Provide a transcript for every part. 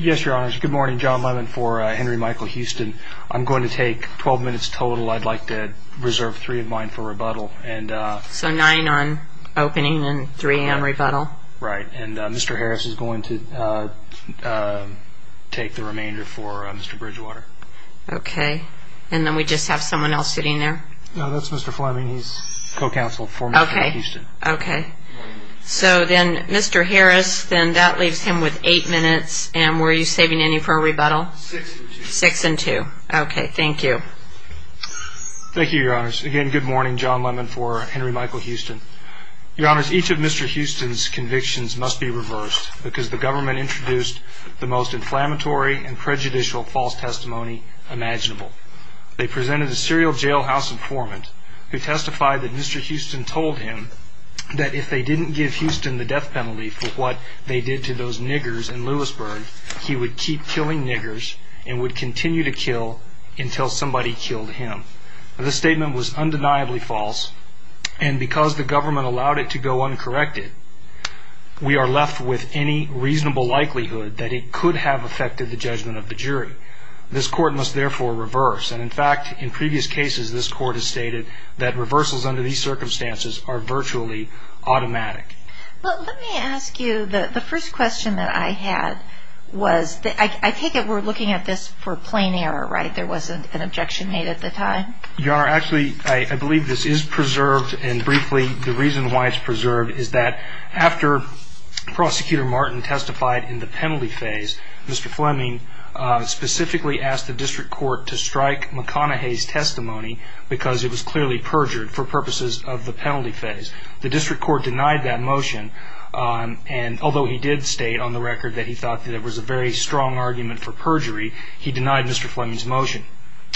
Yes, your honors. Good morning. John Lemon for Henry Michael Houston. I'm going to take 12 minutes total I'd like to reserve three of mine for rebuttal and so nine on opening and 3 a.m.. Rebuttal right and mr. Harris is going to Take the remainder for mr.. Bridgewater Okay, and then we just have someone else sitting there. No, that's mr.. Fleming. He's co-counsel for okay, okay? So then mr. Harris then that leaves him with eight minutes and were you saving any for a rebuttal six and two okay? Thank you Thank you your honors again. Good morning. John Lemon for Henry Michael Houston your honors each of mr. Houston's convictions must be reversed because the government introduced the most inflammatory and prejudicial false testimony Imaginable they presented a serial jailhouse informant who testified that mr. Houston told him that if they didn't give Houston the death penalty for what they did to those niggers in Lewisburg He would keep killing niggers and would continue to kill until somebody killed him the statement was undeniably false And because the government allowed it to go uncorrected We are left with any reasonable likelihood that it could have affected the judgment of the jury This court must therefore reverse and in fact in previous cases this court has stated that reversals under these circumstances are virtually Automatic well, let me ask you that the first question that I had was that I take it We're looking at this for plain error right there wasn't an objection made at the time You are actually I believe this is preserved and briefly the reason why it's preserved. Is that after? Prosecutor Martin testified in the penalty phase mr.. Fleming Specifically asked the district court to strike McConaughey's testimony because it was clearly perjured for purposes of the penalty phase the district court denied that motion And although he did state on the record that he thought that it was a very strong argument for perjury. He denied mr. Fleming's motion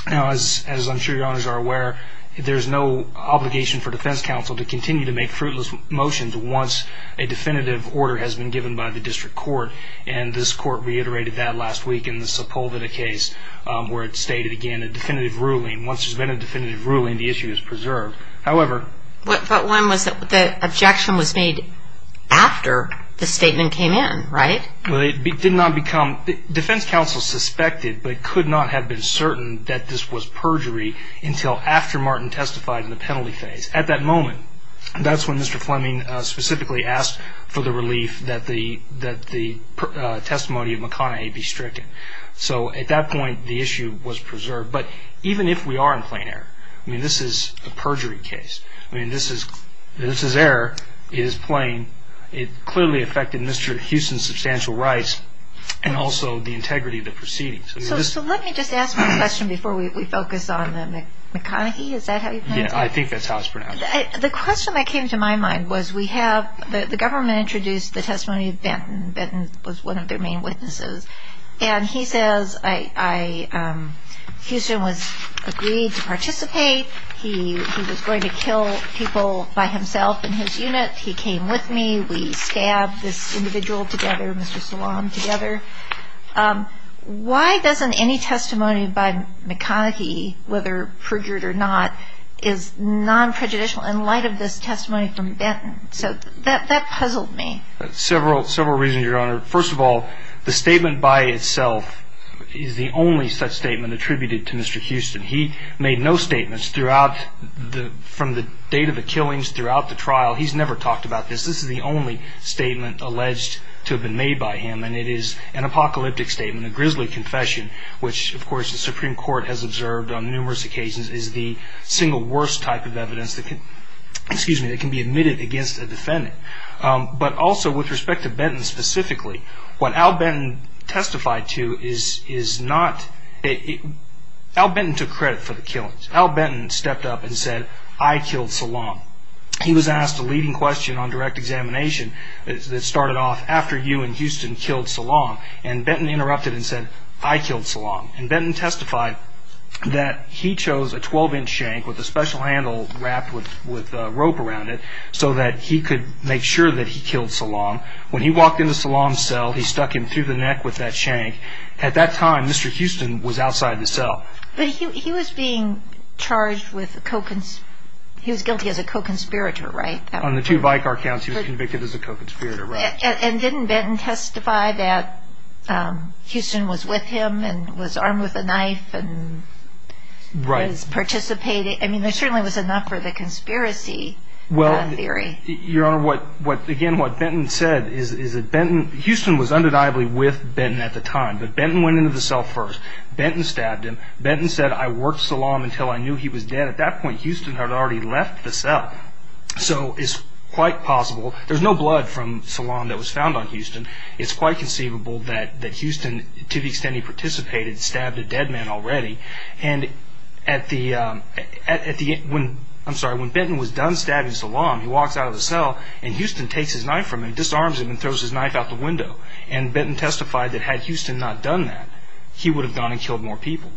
now as as I'm sure your honors are aware There's no obligation for defense counsel to continue to make fruitless motions once a definitive order has been given by the district court And this court reiterated that last week in the Sepulveda case Where it stated again a definitive ruling once there's been a definitive ruling the issue is preserved however But one was that the objection was made After the statement came in right well It did not become defense counsel suspected But it could not have been certain that this was perjury until after Martin testified in the penalty phase at that moment That's when mr. Fleming specifically asked for the relief that the that the Testimony of McConaughey be stricken so at that point the issue was preserved, but even if we are in plain air I mean, this is a perjury case. I mean this is this is error is plain it clearly affected Mr.. Houston substantial rights and also the integrity of the proceedings So let me just ask my question before we focus on them Is that how you know I think that's how it's pronounced the question that came to my mind was we have the government introduced the testimony of Benton Benton was one of their main witnesses, and he says I Houston was agreed to participate He he was going to kill people by himself in his unit. He came with me. We stabbed this individual together Mr.. Salam together Why doesn't any testimony by McConaughey whether perjured or not is Non-prejudicial in light of this testimony from Benton so that that puzzled me several several reasons your honor first of all the statement by itself Is the only such statement attributed to mr.. Houston? He made no statements throughout the from the date of the killings throughout the trial. He's never talked about this This is the only statement alleged to have been made by him And it is an apocalyptic statement a grisly confession Which of course the Supreme Court has observed on numerous occasions is the single worst type of evidence that can excuse me? It can be admitted against a defendant but also with respect to Benton specifically what Al Benton testified to is is not a Al Benton took credit for the killings Al Benton stepped up and said I killed Salam He was asked a leading question on direct examination It started off after you and Houston killed Salam and Benton interrupted and said I killed Salam and Benton testified That he chose a 12-inch shank with a special handle wrapped with with rope around it So that he could make sure that he killed Salam when he walked into Salam cell He stuck him through the neck with that shank at that time mr.. Houston was outside the cell, but he was being Charged with the coke and he was guilty as a co-conspirator right now on the two by car counts He was convicted as a co-conspirator and didn't Benton testify that Houston was with him and was armed with a knife and Right as participating. I mean there certainly was enough for the conspiracy well I'm very your honor what what again what Benton said is is it Benton Houston was undeniably with Benton at the time? But Benton went into the cell first Benton stabbed him Benton said I worked Salam until I knew he was dead at that point Houston had already left the cell So it's quite possible. There's no blood from Salam that was found on Houston it's quite conceivable that that Houston to the extent he participated stabbed a dead man already and at the At the end when I'm sorry when Benton was done stabbing Salam He walks out of the cell and Houston takes his knife from him disarms him and throws his knife out the window and Benton Testified that had Houston not done that he would have gone and killed more people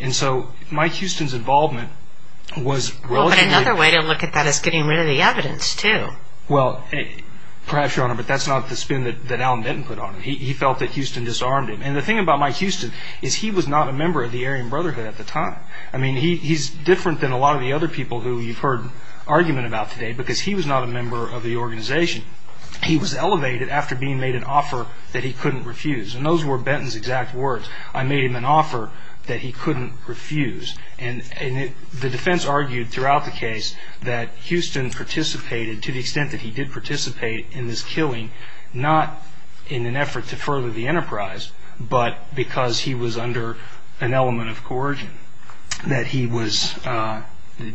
and so Mike Houston's involvement Was really another way to look at that as getting rid of the evidence to well hey perhaps your honor But that's not the spin that Alan Benton put on him He felt that Houston disarmed him and the thing about Mike Houston is he was not a member of the Aryan Brotherhood at the time I mean he's different than a lot of the other people who you've heard Argument about today because he was not a member of the organization He was elevated after being made an offer that he couldn't refuse and those were Benton's exact words I made him an offer that he couldn't refuse and The defense argued throughout the case that Houston participated to the extent that he did participate in this killing Not in an effort to further the enterprise, but because he was under an element of coercion that he was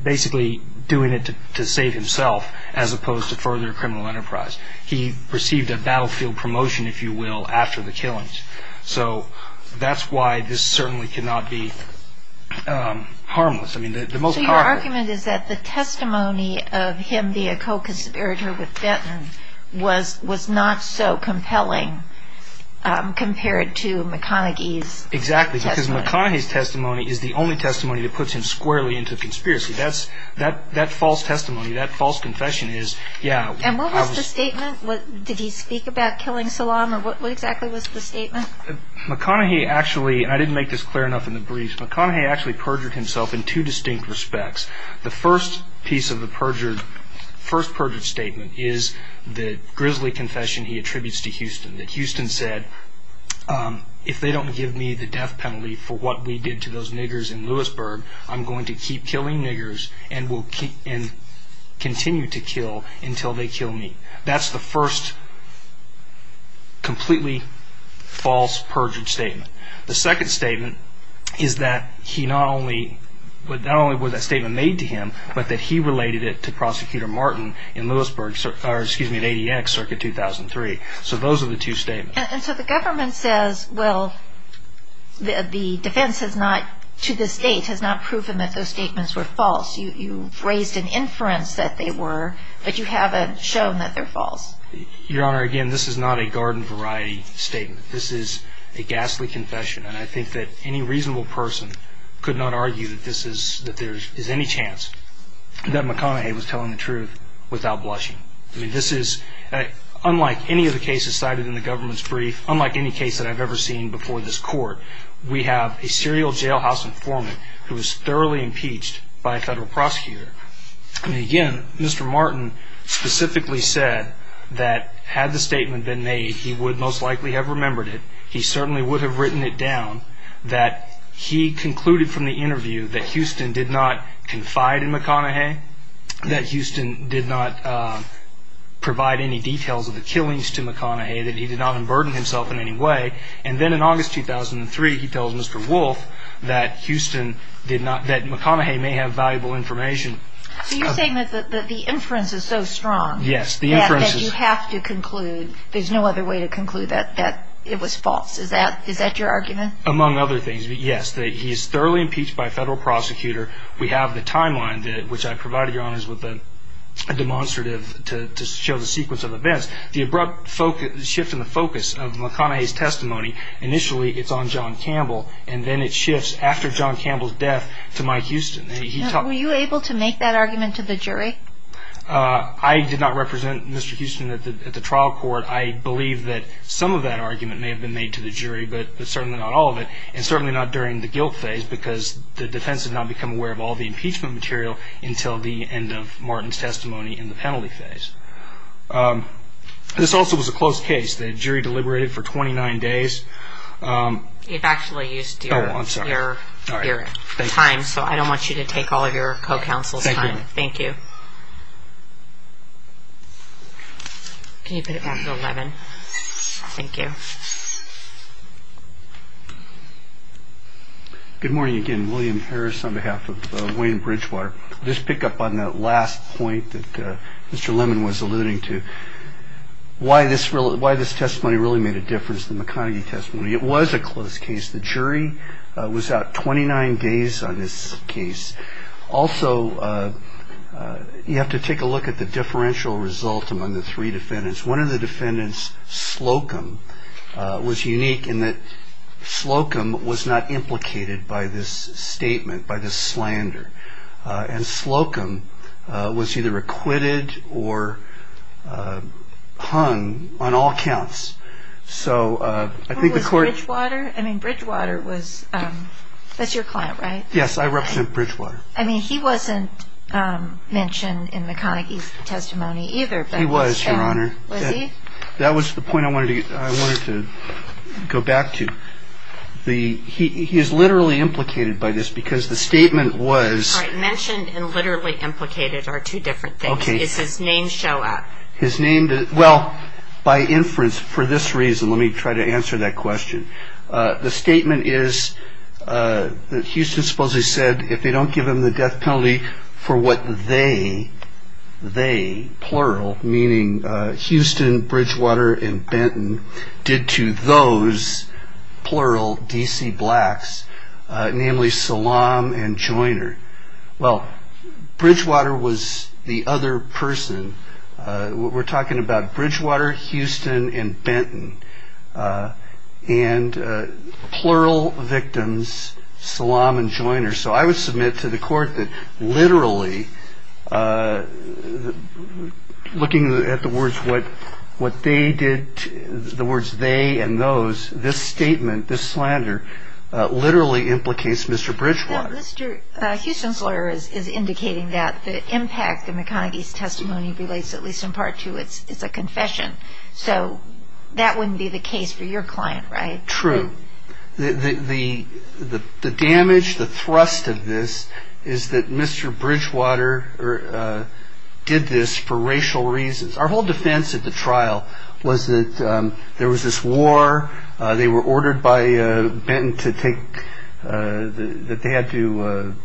Basically doing it to save himself as opposed to further criminal enterprise He received a battlefield promotion if you will after the killings, so that's why this certainly cannot be Harmless I mean the most argument is that the testimony of him the a co-conspirator with Benton Was was not so compelling Compared to McConaughey's Exactly because McConaughey's testimony is the only testimony that puts him squarely into conspiracy That's that that false testimony that false confession is yeah And what was the statement what did he speak about killing Salaam or what exactly was the statement? McConaughey actually and I didn't make this clear enough in the briefs McConaughey actually perjured himself in two distinct respects The first piece of the perjured first perjured statement is the grizzly confession He attributes to Houston that Houston said If they don't give me the death penalty for what we did to those niggers in Lewisburg I'm going to keep killing niggers and will keep in Continue to kill until they kill me. That's the first Completely False perjured statement the second statement is that he not only But not only was that statement made to him, but that he related it to prosecutor Martin in Lewisburg Excuse me at ADX circuit 2003. So those are the two statements of the government says well The defense has not to this date has not proven that those statements were false You raised an inference that they were but you haven't shown that they're false your honor again This is not a garden variety statement This is a ghastly confession and I think that any reasonable person could not argue that this is that there is any chance That McConaughey was telling the truth without blushing I mean this is Unlike any of the cases cited in the government's brief unlike any case that I've ever seen before this court We have a serial jailhouse informant who was thoroughly impeached by a federal prosecutor Again, mr. Martin Specifically said that had the statement been made he would most likely have remembered it He certainly would have written it down that he concluded from the interview that Houston did not confide in McConaughey that Houston did not Provide any details of the killings to McConaughey that he did not unburden himself in any way and then in August 2003 He tells mr. Wolf that Houston did not that McConaughey may have valuable information So you're saying that the inference is so strong. Yes, the inferences have to conclude There's no other way to conclude that that it was false. Is that is that your argument among other things? Yes, that he is thoroughly impeached by a federal prosecutor. We have the timeline that which I provided your honors with a Demonstrative to show the sequence of events the abrupt focus shift in the focus of McConaughey's testimony Initially, it's on John Campbell and then it shifts after John Campbell's death to Mike Houston He taught were you able to make that argument to the jury? I did not represent. Mr. Houston at the trial court I believe that some of that argument may have been made to the jury But certainly not all of it and certainly not during the guilt phase because the defense has not become aware of all the impeachment material until the end of Martin's testimony in the penalty phase This also was a closed case the jury deliberated for 29 days You've actually used your time. So I don't want you to take all of your co-counsel. Thank you Thank you Good Morning again, William Harris on behalf of Wayne Bridgewater just pick up on that last point that mr. Lemon was alluding to Why this really why this testimony really made a difference than the Carnegie testimony. It was a closed case The jury was out 29 days on this case also You have to take a look at the differential result among the three defendants one of the defendants Slocum was unique in that Slocum was not implicated by this statement by the slander and Slocum was either acquitted or Hung on all counts So I think the court water. I mean Bridgewater was That's your client, right? Yes, I represent Bridgewater. I mean he wasn't Mentioned in the Carnegie's testimony either. He was your honor That was the point. I wanted to I wanted to go back to The he is literally implicated by this because the statement was mentioned and literally implicated are two different things Okay, his name show up his name did well by inference for this reason. Let me try to answer that question the statement is That Houston supposedly said if they don't give him the death penalty for what they they plural meaning Houston Bridgewater and Benton did to those plural DC blacks Namely Salaam and joiner. Well Bridgewater was the other person we're talking about Bridgewater Houston and Benton and Plural victims Salaam and joiner, so I would submit to the court that literally Looking at the words what what they did the words they and those this statement this slander Literally implicates mr. Bridgewater Houston's lawyers is indicating that the impact the McConaghy's testimony relates at least in part to it's it's a confession so That wouldn't be the case for your client, right true the Damage the thrust of this is that mr. Bridgewater or Did this for racial reasons our whole defense at the trial was that there was this war they were ordered by? Benton to take that they had to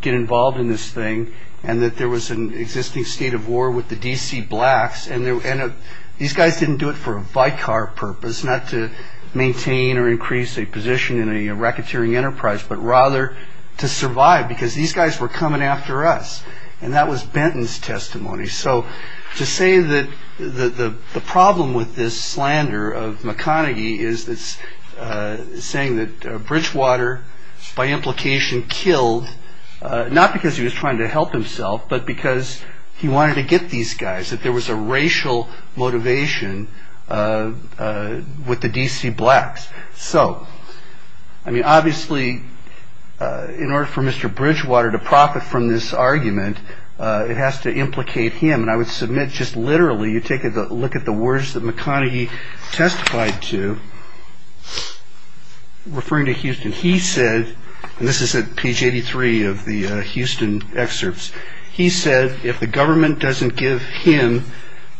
Get involved in this thing and that there was an existing state of war with the DC blacks And these guys didn't do it for a bike car purpose not to Maintain or increase a position in a racketeering enterprise But rather to survive because these guys were coming after us and that was Benton's testimony so to say that the the problem with this slander of McConaghy is this Saying that Bridgewater by implication killed Not because he was trying to help himself, but because he wanted to get these guys that there was a racial motivation With the DC blacks, so I mean obviously In order for mr. Bridgewater to profit from this argument It has to implicate him and I would submit just literally you take a look at the words that McConaghy testified to Referring to Houston he said and this is a page 83 of the Houston excerpts He said if the government doesn't give him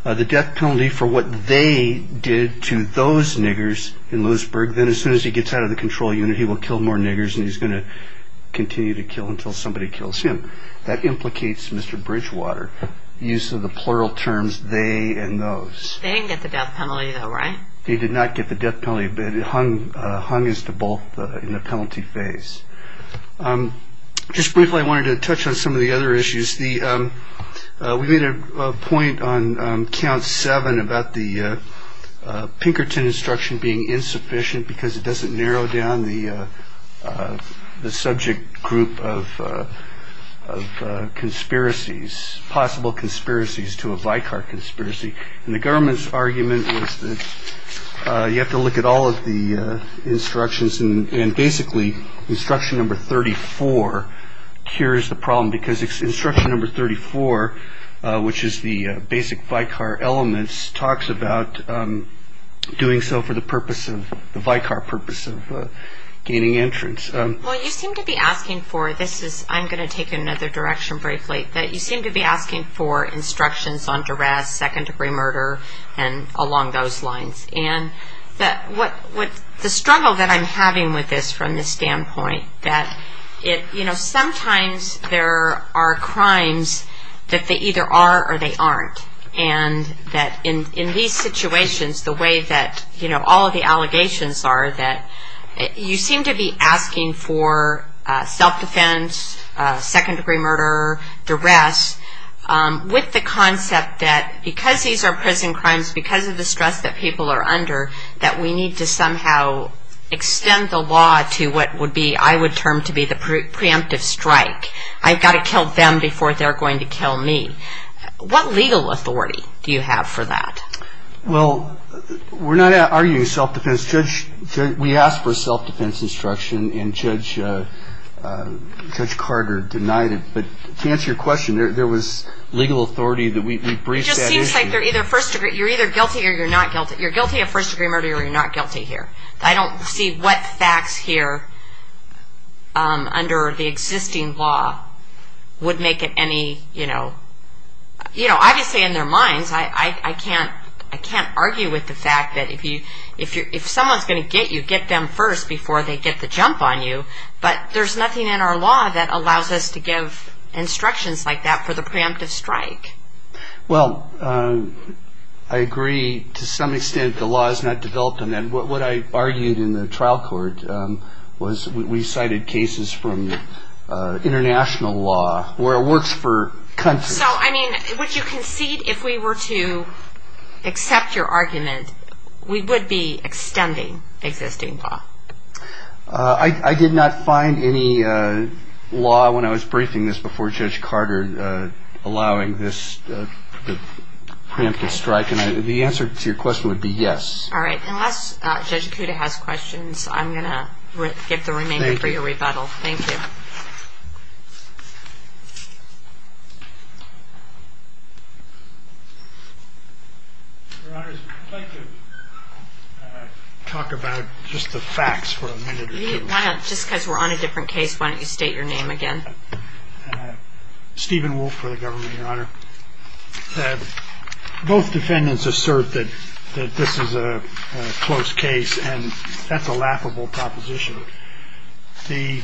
The death penalty for what they did to those niggers in Lewisburg Then as soon as he gets out of the control unit he will kill more niggers And he's going to continue to kill until somebody kills him that implicates mr. Bridgewater use of the plural terms they and those Right he did not get the death penalty, but it hung hung is to both in the penalty phase Just briefly I wanted to touch on some of the other issues the we made a point on count seven about the Pinkerton instruction being insufficient because it doesn't narrow down the the subject group of Conspiracies possible conspiracies to a Vicar conspiracy and the government's argument was that you have to look at all of the instructions and basically instruction number 34 Here is the problem because it's instruction number 34 Which is the basic Vicar elements talks about? doing so for the purpose of the Vicar purpose of Gaining entrance Well you seem to be asking for this is I'm going to take another direction briefly that you seem to be asking for instructions on duress second-degree murder and along those lines and That what what the struggle that I'm having with this from the standpoint that it you know sometimes There are crimes that they either are or they aren't and that in in these situations The way that you know all of the allegations are that you seem to be asking for self-defense second-degree murder duress With the concept that because these are prison crimes because of the stress that people are under that we need to somehow Extend the law to what would be I would term to be the preemptive strike I've got to kill them before they're going to kill me What legal authority do you have for that? Well, we're not arguing self-defense judge. We asked for self-defense instruction and judge Judge Carter denied it, but to answer your question there was legal authority that we Either first degree you're either guilty or you're not guilty you're guilty of first-degree murder. You're not guilty here. I don't see what facts here Under the existing law Would make it any you know Obviously in their minds I I can't I can't argue with the fact that if you if you're if someone's going to get you get them first before they Get the jump on you, but there's nothing in our law that allows us to give instructions like that for the preemptive strike well, I Agree to some extent the law is not developed and then what I argued in the trial court was we cited cases from International law where it works for country. So I mean would you concede if we were to Accept your argument. We would be extending existing law. I Did not find any Law when I was briefing this before judge Carter allowing this Preemptive strike and the answer to your question would be yes. All right, unless judge Kuda has questions I'm gonna get the remaining for your rebuttal. Thank you I Talk about just the facts for a minute just because we're on a different case. Why don't you state your name again? Stephen wolf for the government your honor Both defendants assert that this is a close case and that's a laughable proposition the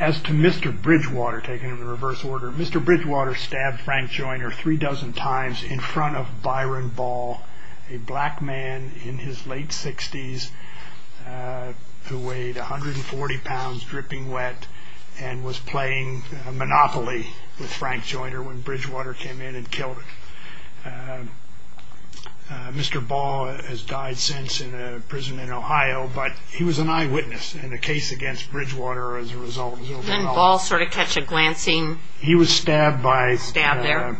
As to mr. Bridgewater taken in the reverse order. Mr. Bridgewater stabbed Frank Joyner three dozen times in front of Byron Ball a black man in his late 60s Who weighed 140 pounds dripping wet and was playing? Monopoly with Frank Joyner when Bridgewater came in and killed him Mr. Ball has died since in a prison in Ohio But he was an eyewitness in the case against Bridgewater as a result and all sort of catch a glancing He was stabbed by stabbed there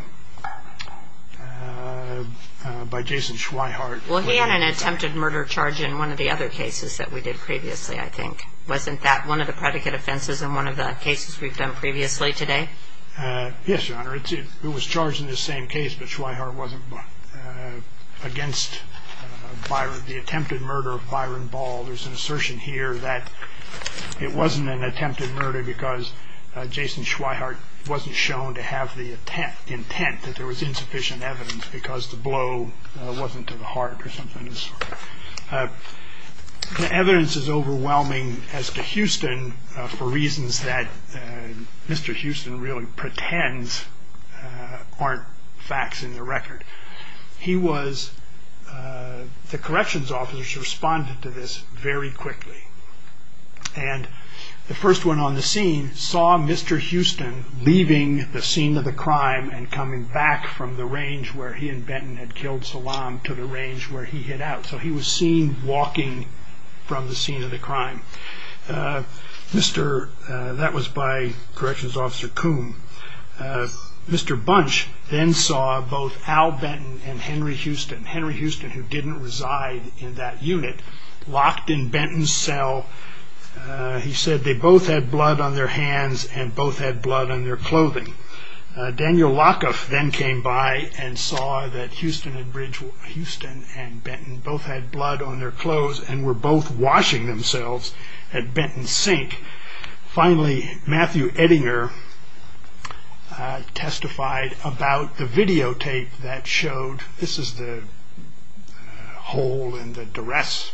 By Jason Schweinhardt, well, he had an attempted murder charge in one of the other cases that we did previously I think wasn't that one of the predicate offenses in one of the cases we've done previously today Yes, your honor. It was charged in the same case, but Schweinhardt wasn't against Byron the attempted murder of Byron Ball, there's an assertion here that it wasn't an attempted murder because Jason Schweinhardt wasn't shown to have the attempt intent that there was insufficient evidence because the blow Wasn't to the heart or something The evidence is overwhelming as to Houston for reasons that Mr. Houston really pretends aren't facts in the record he was the corrections officers responded to this very quickly and The first one on the scene saw Mr. Houston Leaving the scene of the crime and coming back from the range where he and Benton had killed Salam to the range where he hit Out so he was seen walking from the scene of the crime Mr. That was by Corrections Officer Coom Mr. Bunch then saw both Al Benton and Henry Houston Henry Houston who didn't reside in that unit locked in Benton's cell He said they both had blood on their hands and both had blood on their clothing Daniel Lockoff then came by and saw that Houston and bridge Houston and Benton both had blood on their clothes and were both washing themselves at Benton's sink finally Matthew Edinger Testified about the videotape that showed this is the hole in the duress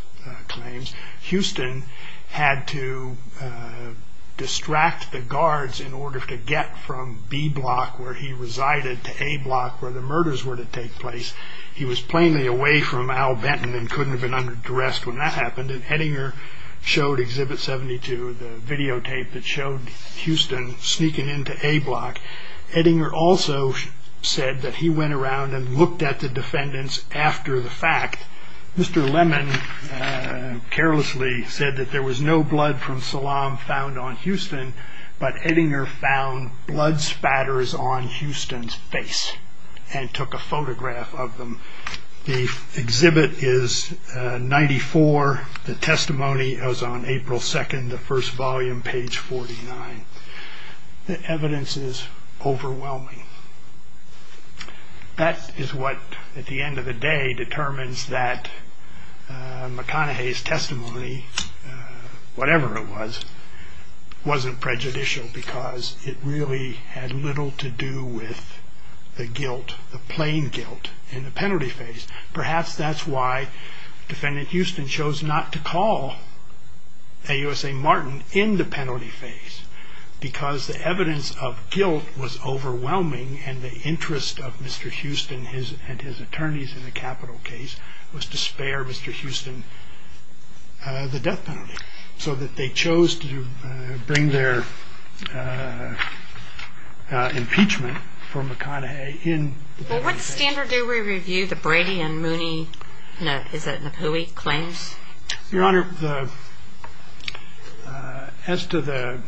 claims Houston had to Distract the guards in order to get from B block where he resided to a block where the murders were to take place He was plainly away from Al Benton and couldn't have been under duress when that happened and heading her Showed exhibit 72 the videotape that showed Houston sneaking into a block Eddinger also said that he went around and looked at the defendants after the fact Mr. Lemon Carelessly said that there was no blood from Salam found on Houston But Eddinger found blood spatters on Houston's face and took a photograph of them the exhibit is 94 the testimony is on April 2nd the first volume page 49 the evidence is overwhelming That is what at the end of the day determines that McConaughey's testimony Whatever it was Wasn't prejudicial because it really had little to do with The guilt the plain guilt in the penalty phase perhaps. That's why defendant Houston chose not to call a USA Martin in the penalty phase Because the evidence of guilt was overwhelming and the interest of mr. Houston his and his attorneys in the capital case was to spare mr. Houston The death penalty so that they chose to bring their Impeachment for McConaughey in what standard do we review the Brady and Mooney? No, is that who he claims your honor? As to the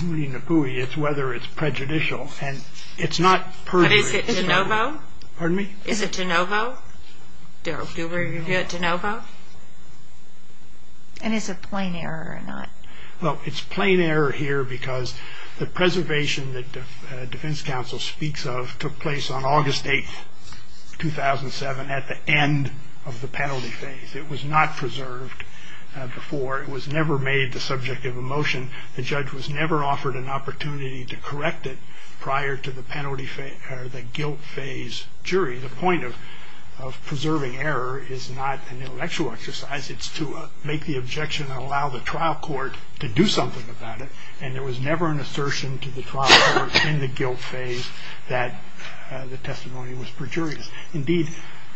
Mooney-Napooi, it's whether it's prejudicial and it's not Pardon me is it to Novo Darrell do we get to Novo? And it's a plain error or not Well, it's plain error here because the preservation that defense counsel speaks of took place on August 8th 2007 at the end of the penalty phase it was not preserved Before it was never made the subject of a motion The judge was never offered an opportunity to correct it prior to the penalty fate or the guilt phase jury, the point of Preserving error is not an intellectual exercise It's to make the objection and allow the trial court to do something about it And there was never an assertion to the trial in the guilt phase that The testimony was perjurious indeed,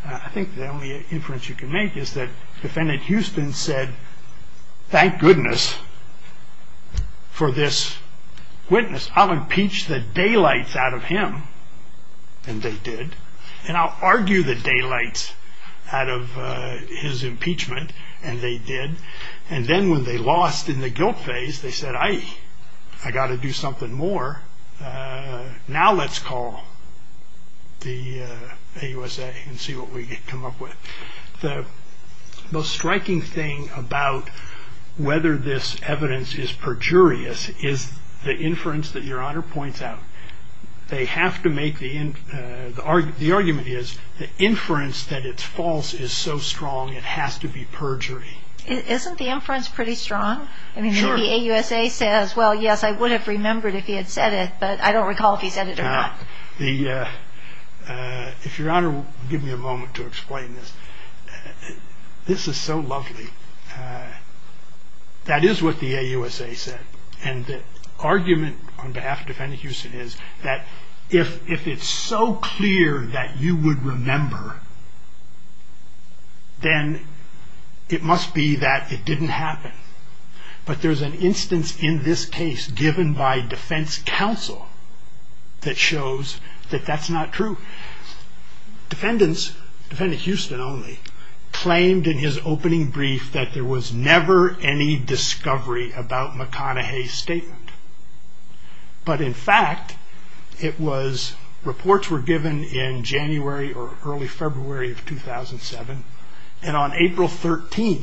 I think the only inference you can make is that defendant Houston said Thank goodness For this Witness, I'll impeach the daylights out of him and they did and I'll argue the daylights out of His impeachment and they did and then when they lost in the guilt phase, they said I I got to do something more Now let's call the AUSA and see what we get come up with the most striking thing about Whether this evidence is perjurious is the inference that your honor points out They have to make the in the argument is the inference that it's false is so strong It has to be perjury. Isn't the inference pretty strong? I mean maybe AUSA says well, yes, I would have remembered if he had said it but I don't recall if he said it or not the If your honor give me a moment to explain this This is so lovely That is what the AUSA said and the argument on behalf of defendant Houston is that if if it's so clear that you would remember Then It must be that it didn't happen But there's an instance in this case given by defense counsel that shows that that's not true Defendants defendant Houston only claimed in his opening brief that there was never any discovery about McConaughey's statement but in fact it was Reports were given in January or early February of 2007 and on April 13th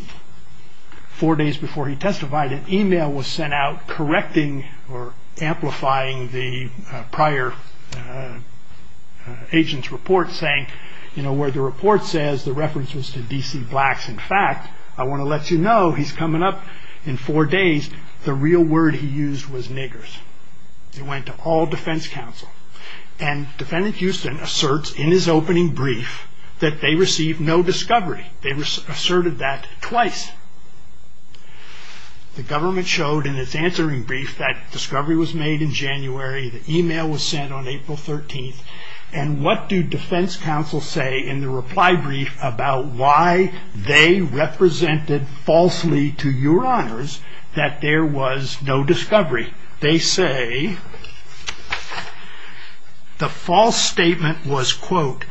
Four days before he testified an email was sent out correcting or amplifying the prior Agents report saying you know where the report says the reference was to DC blacks in fact I want to let you know he's coming up in four days the real word. He used was niggers it went to all defense counsel and Defendant Houston asserts in his opening brief that they received no discovery. They were asserted that twice The government showed in its answering brief that discovery was made in January the email was sent on April 13th And what do defense counsel say in the reply brief about why they? Represented falsely to your honors that there was no discovery they say The false statement was quote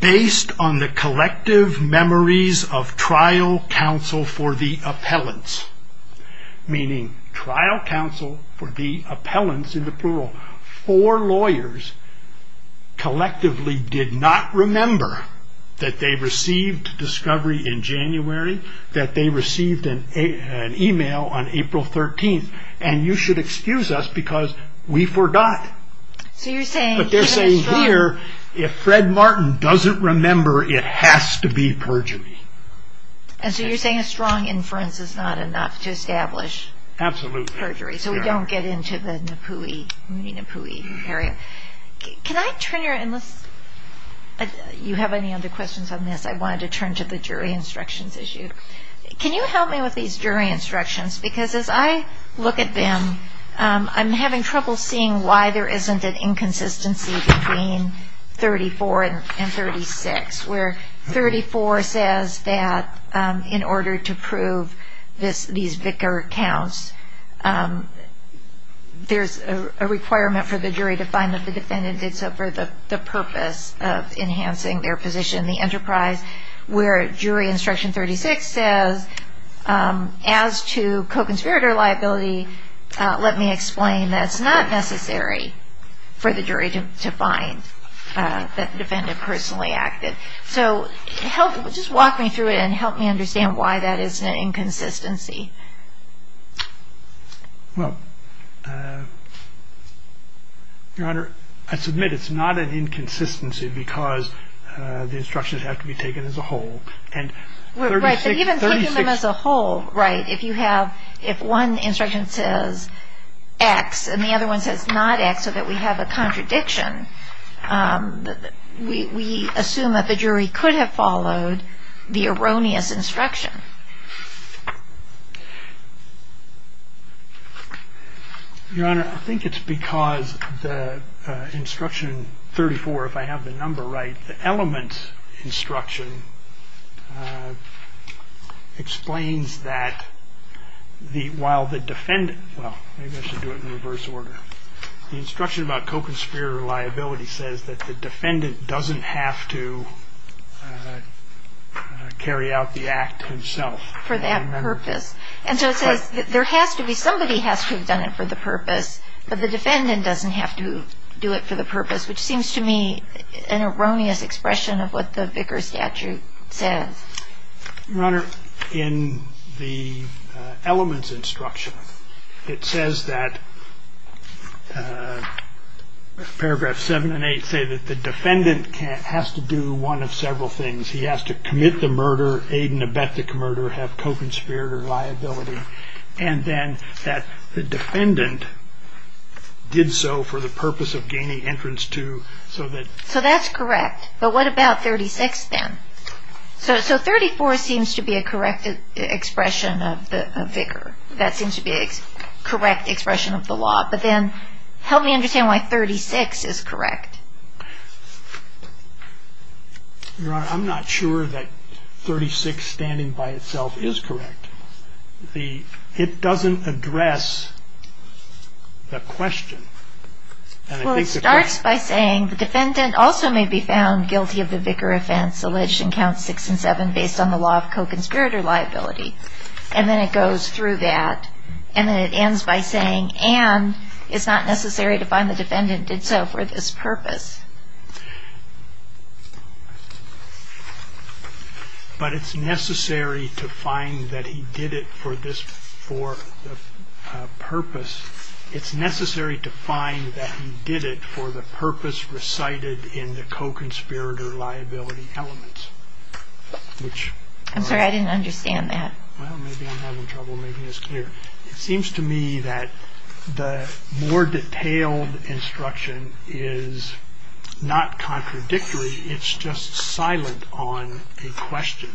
Based on the collective memories of trial counsel for the appellants Meaning trial counsel for the appellants in the plural for lawyers Collectively did not remember that they received discovery in January that they received an Email on April 13th, and you should excuse us because we forgot So you're saying, but they're saying here if Fred Martin doesn't remember it has to be perjury And so you're saying a strong inference is not enough to establish Absolutely perjury, so we don't get into the Napooi area Can I turn your in this? You have any other questions on this I wanted to turn to the jury instructions issue Can you help me with these jury instructions because as I look at them? I'm having trouble seeing why there isn't an inconsistency between 34 and 36 where 34 says that in order to prove this these vicar counts There's a requirement for the jury to find that the defendant did so for the purpose of Enhancing their position in the enterprise where jury instruction 36 says as to co-conspirator liability Let me explain that it's not necessary for the jury to find That the defendant personally acted so help just walk me through it and help me understand. Why that is an inconsistency Well Your honor I submit it's not an inconsistency because the instructions have to be taken as a whole and As a whole right if you have if one instruction says X and the other one says not X so that we have a contradiction We assume that the jury could have followed the erroneous instruction Your honor I think it's because the instruction 34 if I have the number right the element instruction Explains that The while the defendant well Maybe I should do it in reverse order the instruction about co-conspirator liability says that the defendant doesn't have to Carry out the act himself for that purpose and so it says that there has to be somebody has to have done it for the purpose But the defendant doesn't have to do it for the purpose which seems to me an erroneous expression of what the vicar statute Says your honor in the elements instruction. It says that Paragraph seven and eight say that the defendant can't has to do one of several things He has to commit the murder aid in a bet the commurder have co-conspirator liability and then that the defendant Did so for the purpose of gaining entrance to so that so that's correct, but what about 36 then? So so 34 seems to be a correct Expression of the vicar that seems to be a correct expression of the law, but then help me understand why 36 is correct I'm not sure that 36 standing by itself is correct the it doesn't address the question It starts by saying the defendant also may be found guilty of the vicar offense Alleged in count six and seven based on the law of co-conspirator liability And then it goes through that and then it ends by saying and it's not necessary to find the defendant did so for this purpose But it's necessary to find that he did it for this for Purpose it's necessary to find that he did it for the purpose recited in the co-conspirator liability elements Which I'm sorry. I didn't understand that It seems to me that the more detailed instruction is Not contradictory. It's just silent on a question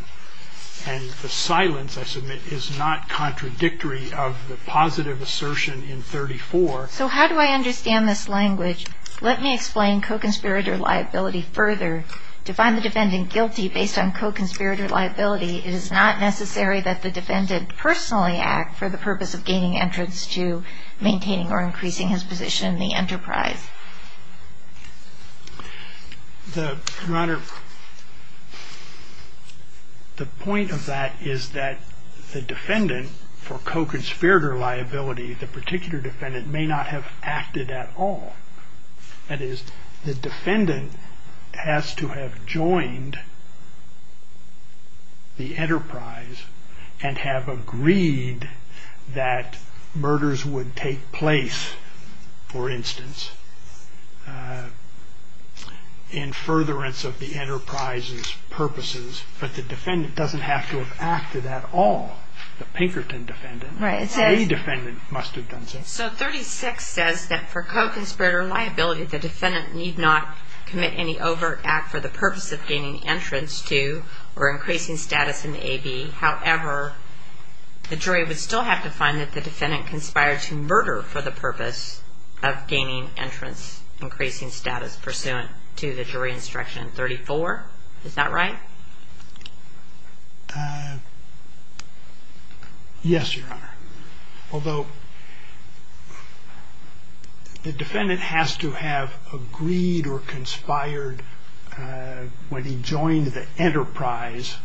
and The silence I submit is not contradictory of the positive assertion in 34 So, how do I understand this language? Let me explain co-conspirator liability further to find the defendant guilty based on co-conspirator liability It is not necessary that the defendant personally act for the purpose of gaining entrance to maintaining or increasing his position in the enterprise The Honor The point of that is that the defendant for co-conspirator liability The particular defendant may not have acted at all That is the defendant has to have joined The enterprise and have agreed that Murders would take place for instance In Furtherance of the enterprise's Purposes but the defendant doesn't have to have acted at all the Pinkerton defendant, right? It's a defendant must have done so 36 says that for co-conspirator liability The defendant need not commit any overt act for the purpose of gaining entrance to or increasing status in a be however The jury would still have to find that the defendant conspired to murder for the purpose of gaining entrance Increasing status pursuant to the jury instruction 34. Is that right? Yes, Your Honor although The defendant has to have agreed or conspired When he joined the enterprise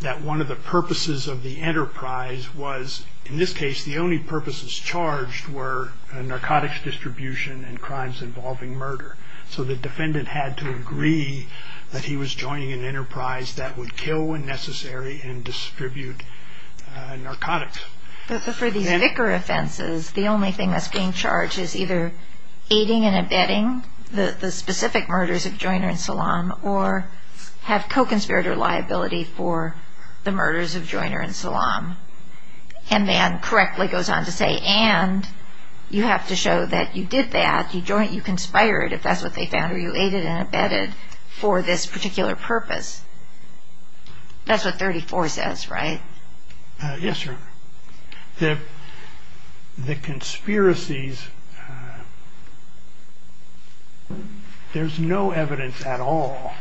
That one of the purposes of the enterprise was in this case The only purposes charged were a narcotics distribution and crimes involving murder So the defendant had to agree that he was joining an enterprise that would kill when necessary and distribute narcotics For these vicar offenses. The only thing that's being charged is either Aiding and abetting the the specific murders of Joyner and Salaam or have co-conspirator liability for the murders of Joyner and Salaam and then correctly goes on to say and You have to show that you did that you joint you conspired if that's what they found or you aided and abetted for this particular purpose That's what 34 says, right? Yes, sir the the conspiracies There's No evidence at all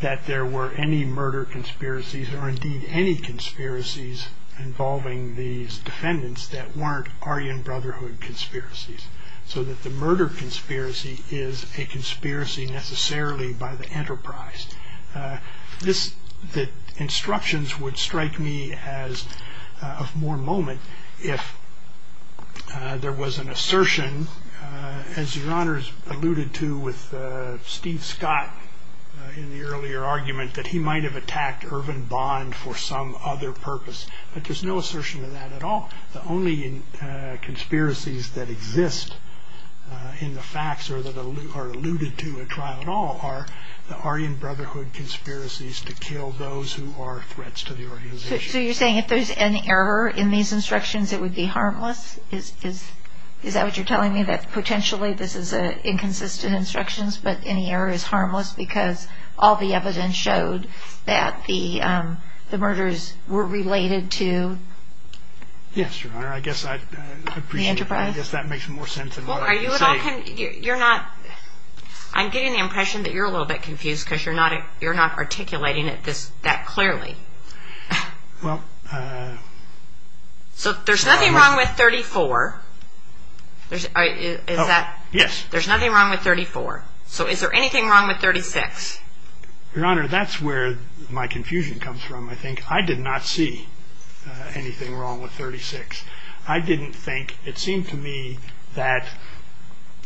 That there were any murder conspiracies or indeed any conspiracies involving these defendants that weren't Aryan Brotherhood conspiracies so that the murder conspiracy is a conspiracy necessarily by the enterprise this the instructions would strike me as of more moment if There was an assertion as your honors alluded to with Steve Scott In the earlier argument that he might have attacked Irvin bond for some other purpose, but there's no assertion of that at all the only conspiracies that exist In the facts or that are alluded to a trial at all are the Aryan Brotherhood Conspiracies to kill those who are threats to the organization So you're saying if there's an error in these instructions, it would be harmless Is that what you're telling me that potentially this is a inconsistent instructions but any error is harmless because all the evidence showed that the murders were related to Yes, your honor, I guess I Guess that makes more sense You're not I'm getting the impression that you're a little bit confused because you're not it. You're not articulating it this that clearly well So there's nothing wrong with 34 There's a is that yes, there's nothing wrong with 34. So is there anything wrong with 36? Your honor that's where my confusion comes from. I think I did not see Anything wrong with 36. I didn't think it seemed to me that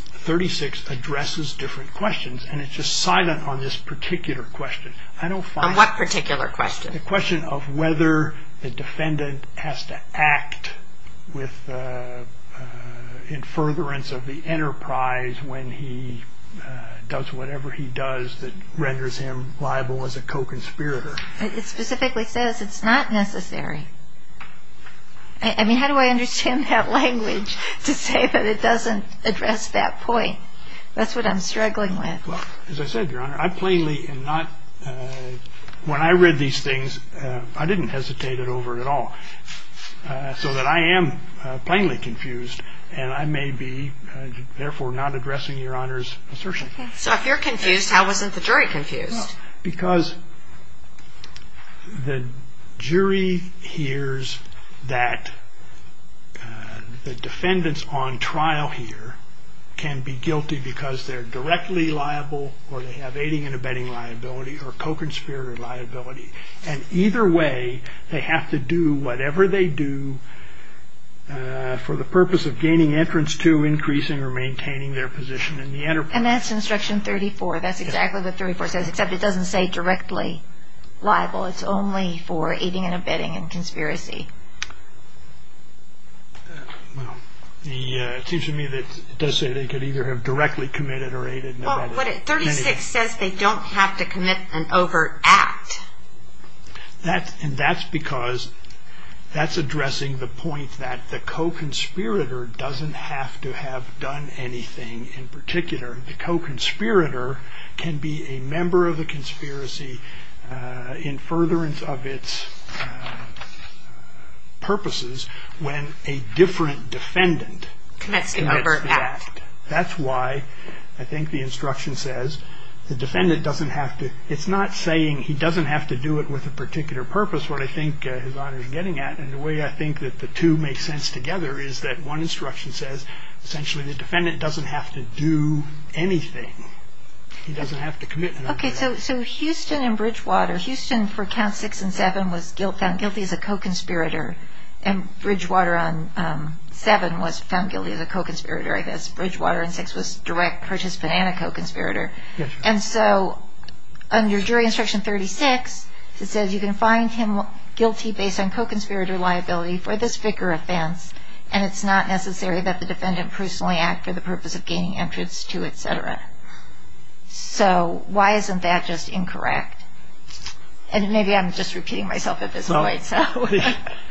36 addresses different questions and it's just silent on this particular question I don't find what particular question the question of whether the defendant has to act with in furtherance of the enterprise when he Does whatever he does that renders him liable as a co-conspirator? It specifically says it's not necessary. I Mean, how do I understand that language to say that it doesn't address that point? That's what I'm struggling with as I said your honor I plainly and not When I read these things, I didn't hesitate it over at all So that I am plainly confused and I may be Therefore not addressing your honors assertion. So if you're confused, how wasn't the jury confused because The jury hears that The defendants on trial here can be guilty because they're directly liable or they have aiding and abetting Liability or co-conspirator liability and either way they have to do whatever they do For the purpose of gaining entrance to increasing or maintaining their position in the enterprise. And that's instruction 34 That's exactly the 34 says except it doesn't say directly Liable, it's only for aiding and abetting and conspiracy Well, yeah, it seems to me that does say they could either have directly committed or aided No, but it 36 says they don't have to commit an overt act that and that's because That's addressing the point that the co-conspirator doesn't have to have done anything in particular The co-conspirator can be a member of the conspiracy in furtherance of its Purposes when a different defendant That's why I think the instruction says the defendant doesn't have to it's not saying he doesn't have to do it with a particular Purpose what I think his honor is getting at and the way I think that the two make sense together Is that one instruction says essentially the defendant doesn't have to do anything He doesn't have to commit. Okay The co-conspirator and Bridgewater on Seven was found guilty of the co-conspirator. I guess Bridgewater and six was direct participant and a co-conspirator. Yes, and so under jury instruction 36 It says you can find him guilty based on co-conspirator liability for this vicar offense And it's not necessary that the defendant personally act for the purpose of gaining entrance to etc So why isn't that just incorrect? And maybe I'm just repeating myself at this moment, so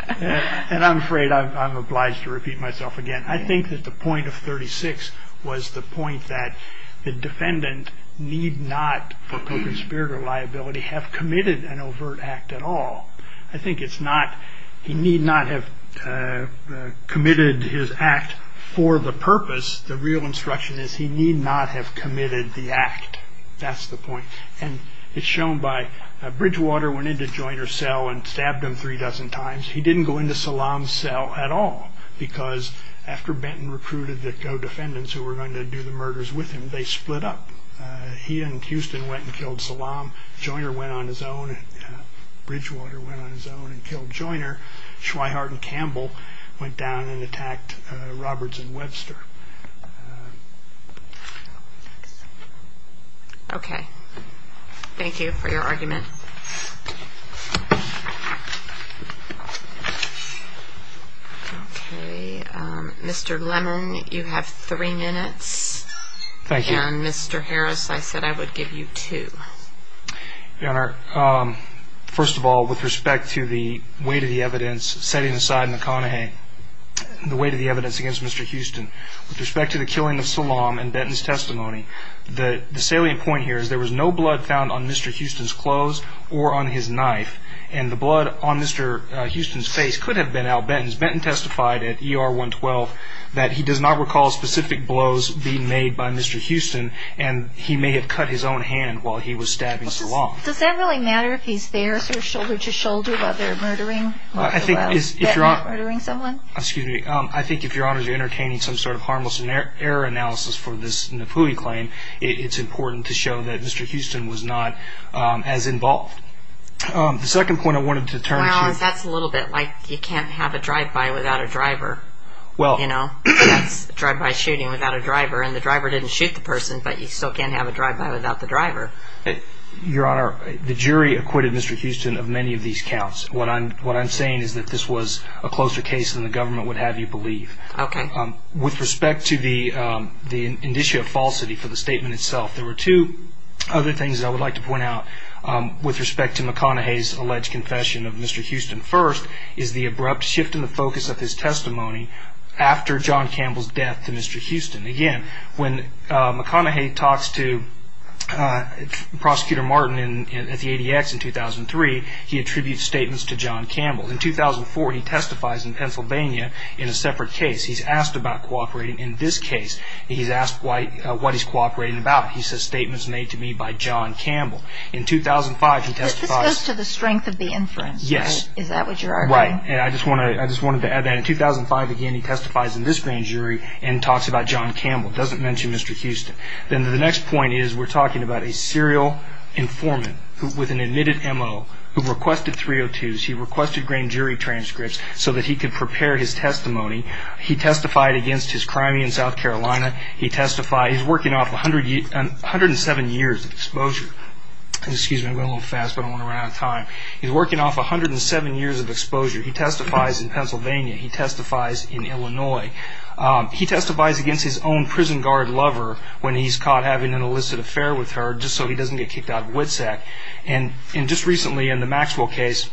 And I'm afraid I'm obliged to repeat myself again I think that the point of 36 was the point that the defendant need not For co-conspirator liability have committed an overt act at all. I think it's not he need not have Committed his act for the purpose. The real instruction is he need not have committed the act That's the point and it's shown by Bridgewater went into Joyner's cell and stabbed him three dozen times He didn't go into Salaam's cell at all because after Benton recruited the co-defendants who were going to do the murders with him They split up He and Houston went and killed Salaam. Joyner went on his own Bridgewater went on his own and killed Joyner. Schweihart and Campbell went down and attacked Roberts and Webster Okay, thank you for your argument Mr. Lemon you have three minutes Thank you. Mr. Harris. I said I would give you two your honor First of all with respect to the weight of the evidence setting aside McConaughey The weight of the evidence against mr With respect to the killing of Salaam and Benton's testimony the the salient point here is there was no blood found on mr Houston's clothes or on his knife and the blood on mr Houston's face could have been Al Benton's Benton testified at ER 112 that he does not recall specific blows being made by mr Houston and he may have cut his own hand while he was stabbing Salaam Does that really matter if he's there so shoulder-to-shoulder about their murdering? If you're doing someone excuse me I think if your honors are entertaining some sort of harmless in their error analysis for this Napuli claim It's important to show that mr. Houston was not as involved The second point I wanted to turn that's a little bit like you can't have a drive-by without a driver Well, you know Drive-by shooting without a driver and the driver didn't shoot the person but you still can't have a drive-by without the driver Your honor the jury acquitted mr. Houston of many of these counts what I'm what I'm saying is that this was a closer case than the government would have you believe Okay with respect to the the indicia of falsity for the statement itself. There were two other things. I would like to point out With respect to McConaughey's alleged confession of mr. Houston first is the abrupt shift in the focus of his testimony after John Campbell's death to mr Houston again when McConaughey talks to Prosecutor Martin and at the ADX in 2003 he attributes statements to John Campbell in 2004 He testifies in Pennsylvania in a separate case. He's asked about cooperating in this case He's asked why what he's cooperating about he says statements made to me by John Campbell in 2005 he testifies to the strength of the inference. Yes Right, and I just want to I just wanted to add that in 2005 again He testifies in this grand jury and talks about John Campbell doesn't mention. Mr Houston then the next point is we're talking about a serial Informant with an admitted mo who requested 302s He requested grand jury transcripts so that he could prepare his testimony. He testified against his crime in South Carolina He testified he's working off 100 years 107 years of exposure Excuse me a little fast, but I want to run out of time. He's working off 107 years of exposure. He testifies in Pennsylvania He testifies in, Illinois He testifies against his own prison guard lover when he's caught having an illicit affair with her just so he doesn't get kicked out of WITSEC and in just recently in the Maxwell case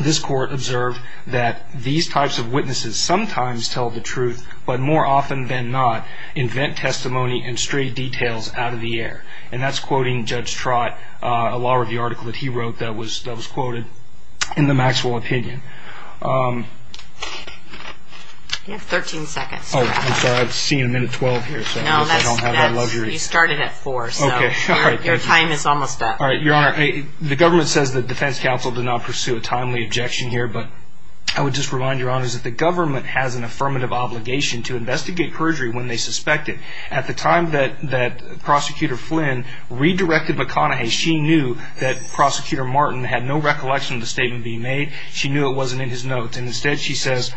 This court observed that these types of witnesses sometimes tell the truth But more often than not invent testimony and stray details out of the air and that's quoting judge Trott a law review article that he wrote that was that was quoted in the Maxwell opinion 13 seconds. Oh, I'm sorry. I've seen a minute 12 here. So no, I don't have a luxury started at 4 Okay, your time is almost up. All right, your honor Hey, the government says the Defense Council did not pursue a timely objection here But I would just remind your honors that the government has an affirmative Obligation to investigate perjury when they suspect it at the time that that prosecutor Flynn Redirected McConaughey. She knew that prosecutor Martin had no recollection of the statement being made She knew it wasn't in his notes. And instead she says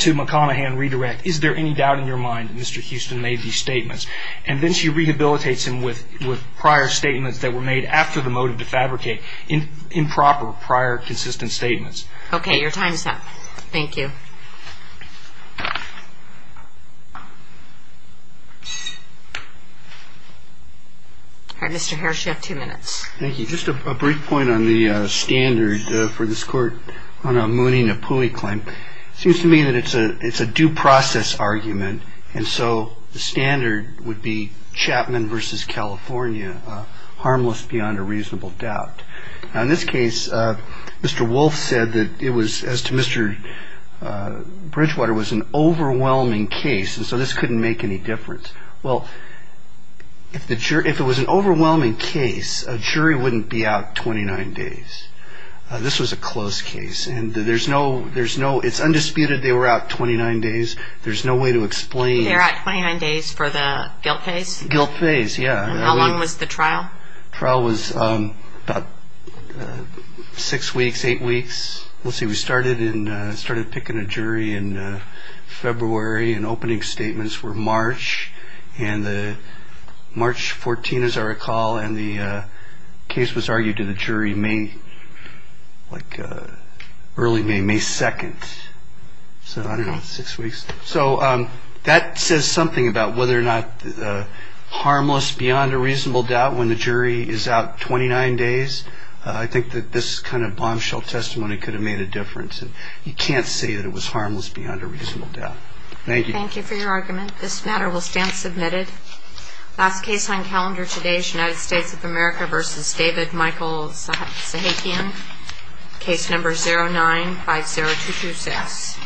to McConaughey and redirect. Is there any doubt in your mind? Mr Houston made these statements and then she rehabilitates him with with prior statements that were made after the motive to fabricate in Improper prior consistent statements. Okay, your time is up. Thank you Mr. Hairshift two minutes. Thank you. Just a brief point on the Standard for this court on a Mooney Napoli claim seems to me that it's a it's a due process argument And so the standard would be Chapman versus, California Harmless beyond a reasonable doubt now in this case Mr. Wolfe said that it was as to mr. Well If the jury if it was an overwhelming case a jury wouldn't be out 29 days This was a close case and there's no there's no it's undisputed. They were out 29 days There's no way to explain there at 29 days for the guilt phase guilt phase. Yeah, how long was the trial trial was? about Six weeks eight weeks. Let's see. We started in started picking a jury in February and opening statements were March and the March 14 as I recall and the Case was argued to the jury me like early May May 2nd So I don't know six weeks. So that says something about whether or not Harmless beyond a reasonable doubt when the jury is out 29 days I think that this kind of bombshell testimony could have made a difference and you can't say that it was harmless beyond a reason Thank you. Thank you for your argument. This matter will stand submitted Last case on calendar today, United States of America versus David Michaels Sahakian case number zero nine five zero two two six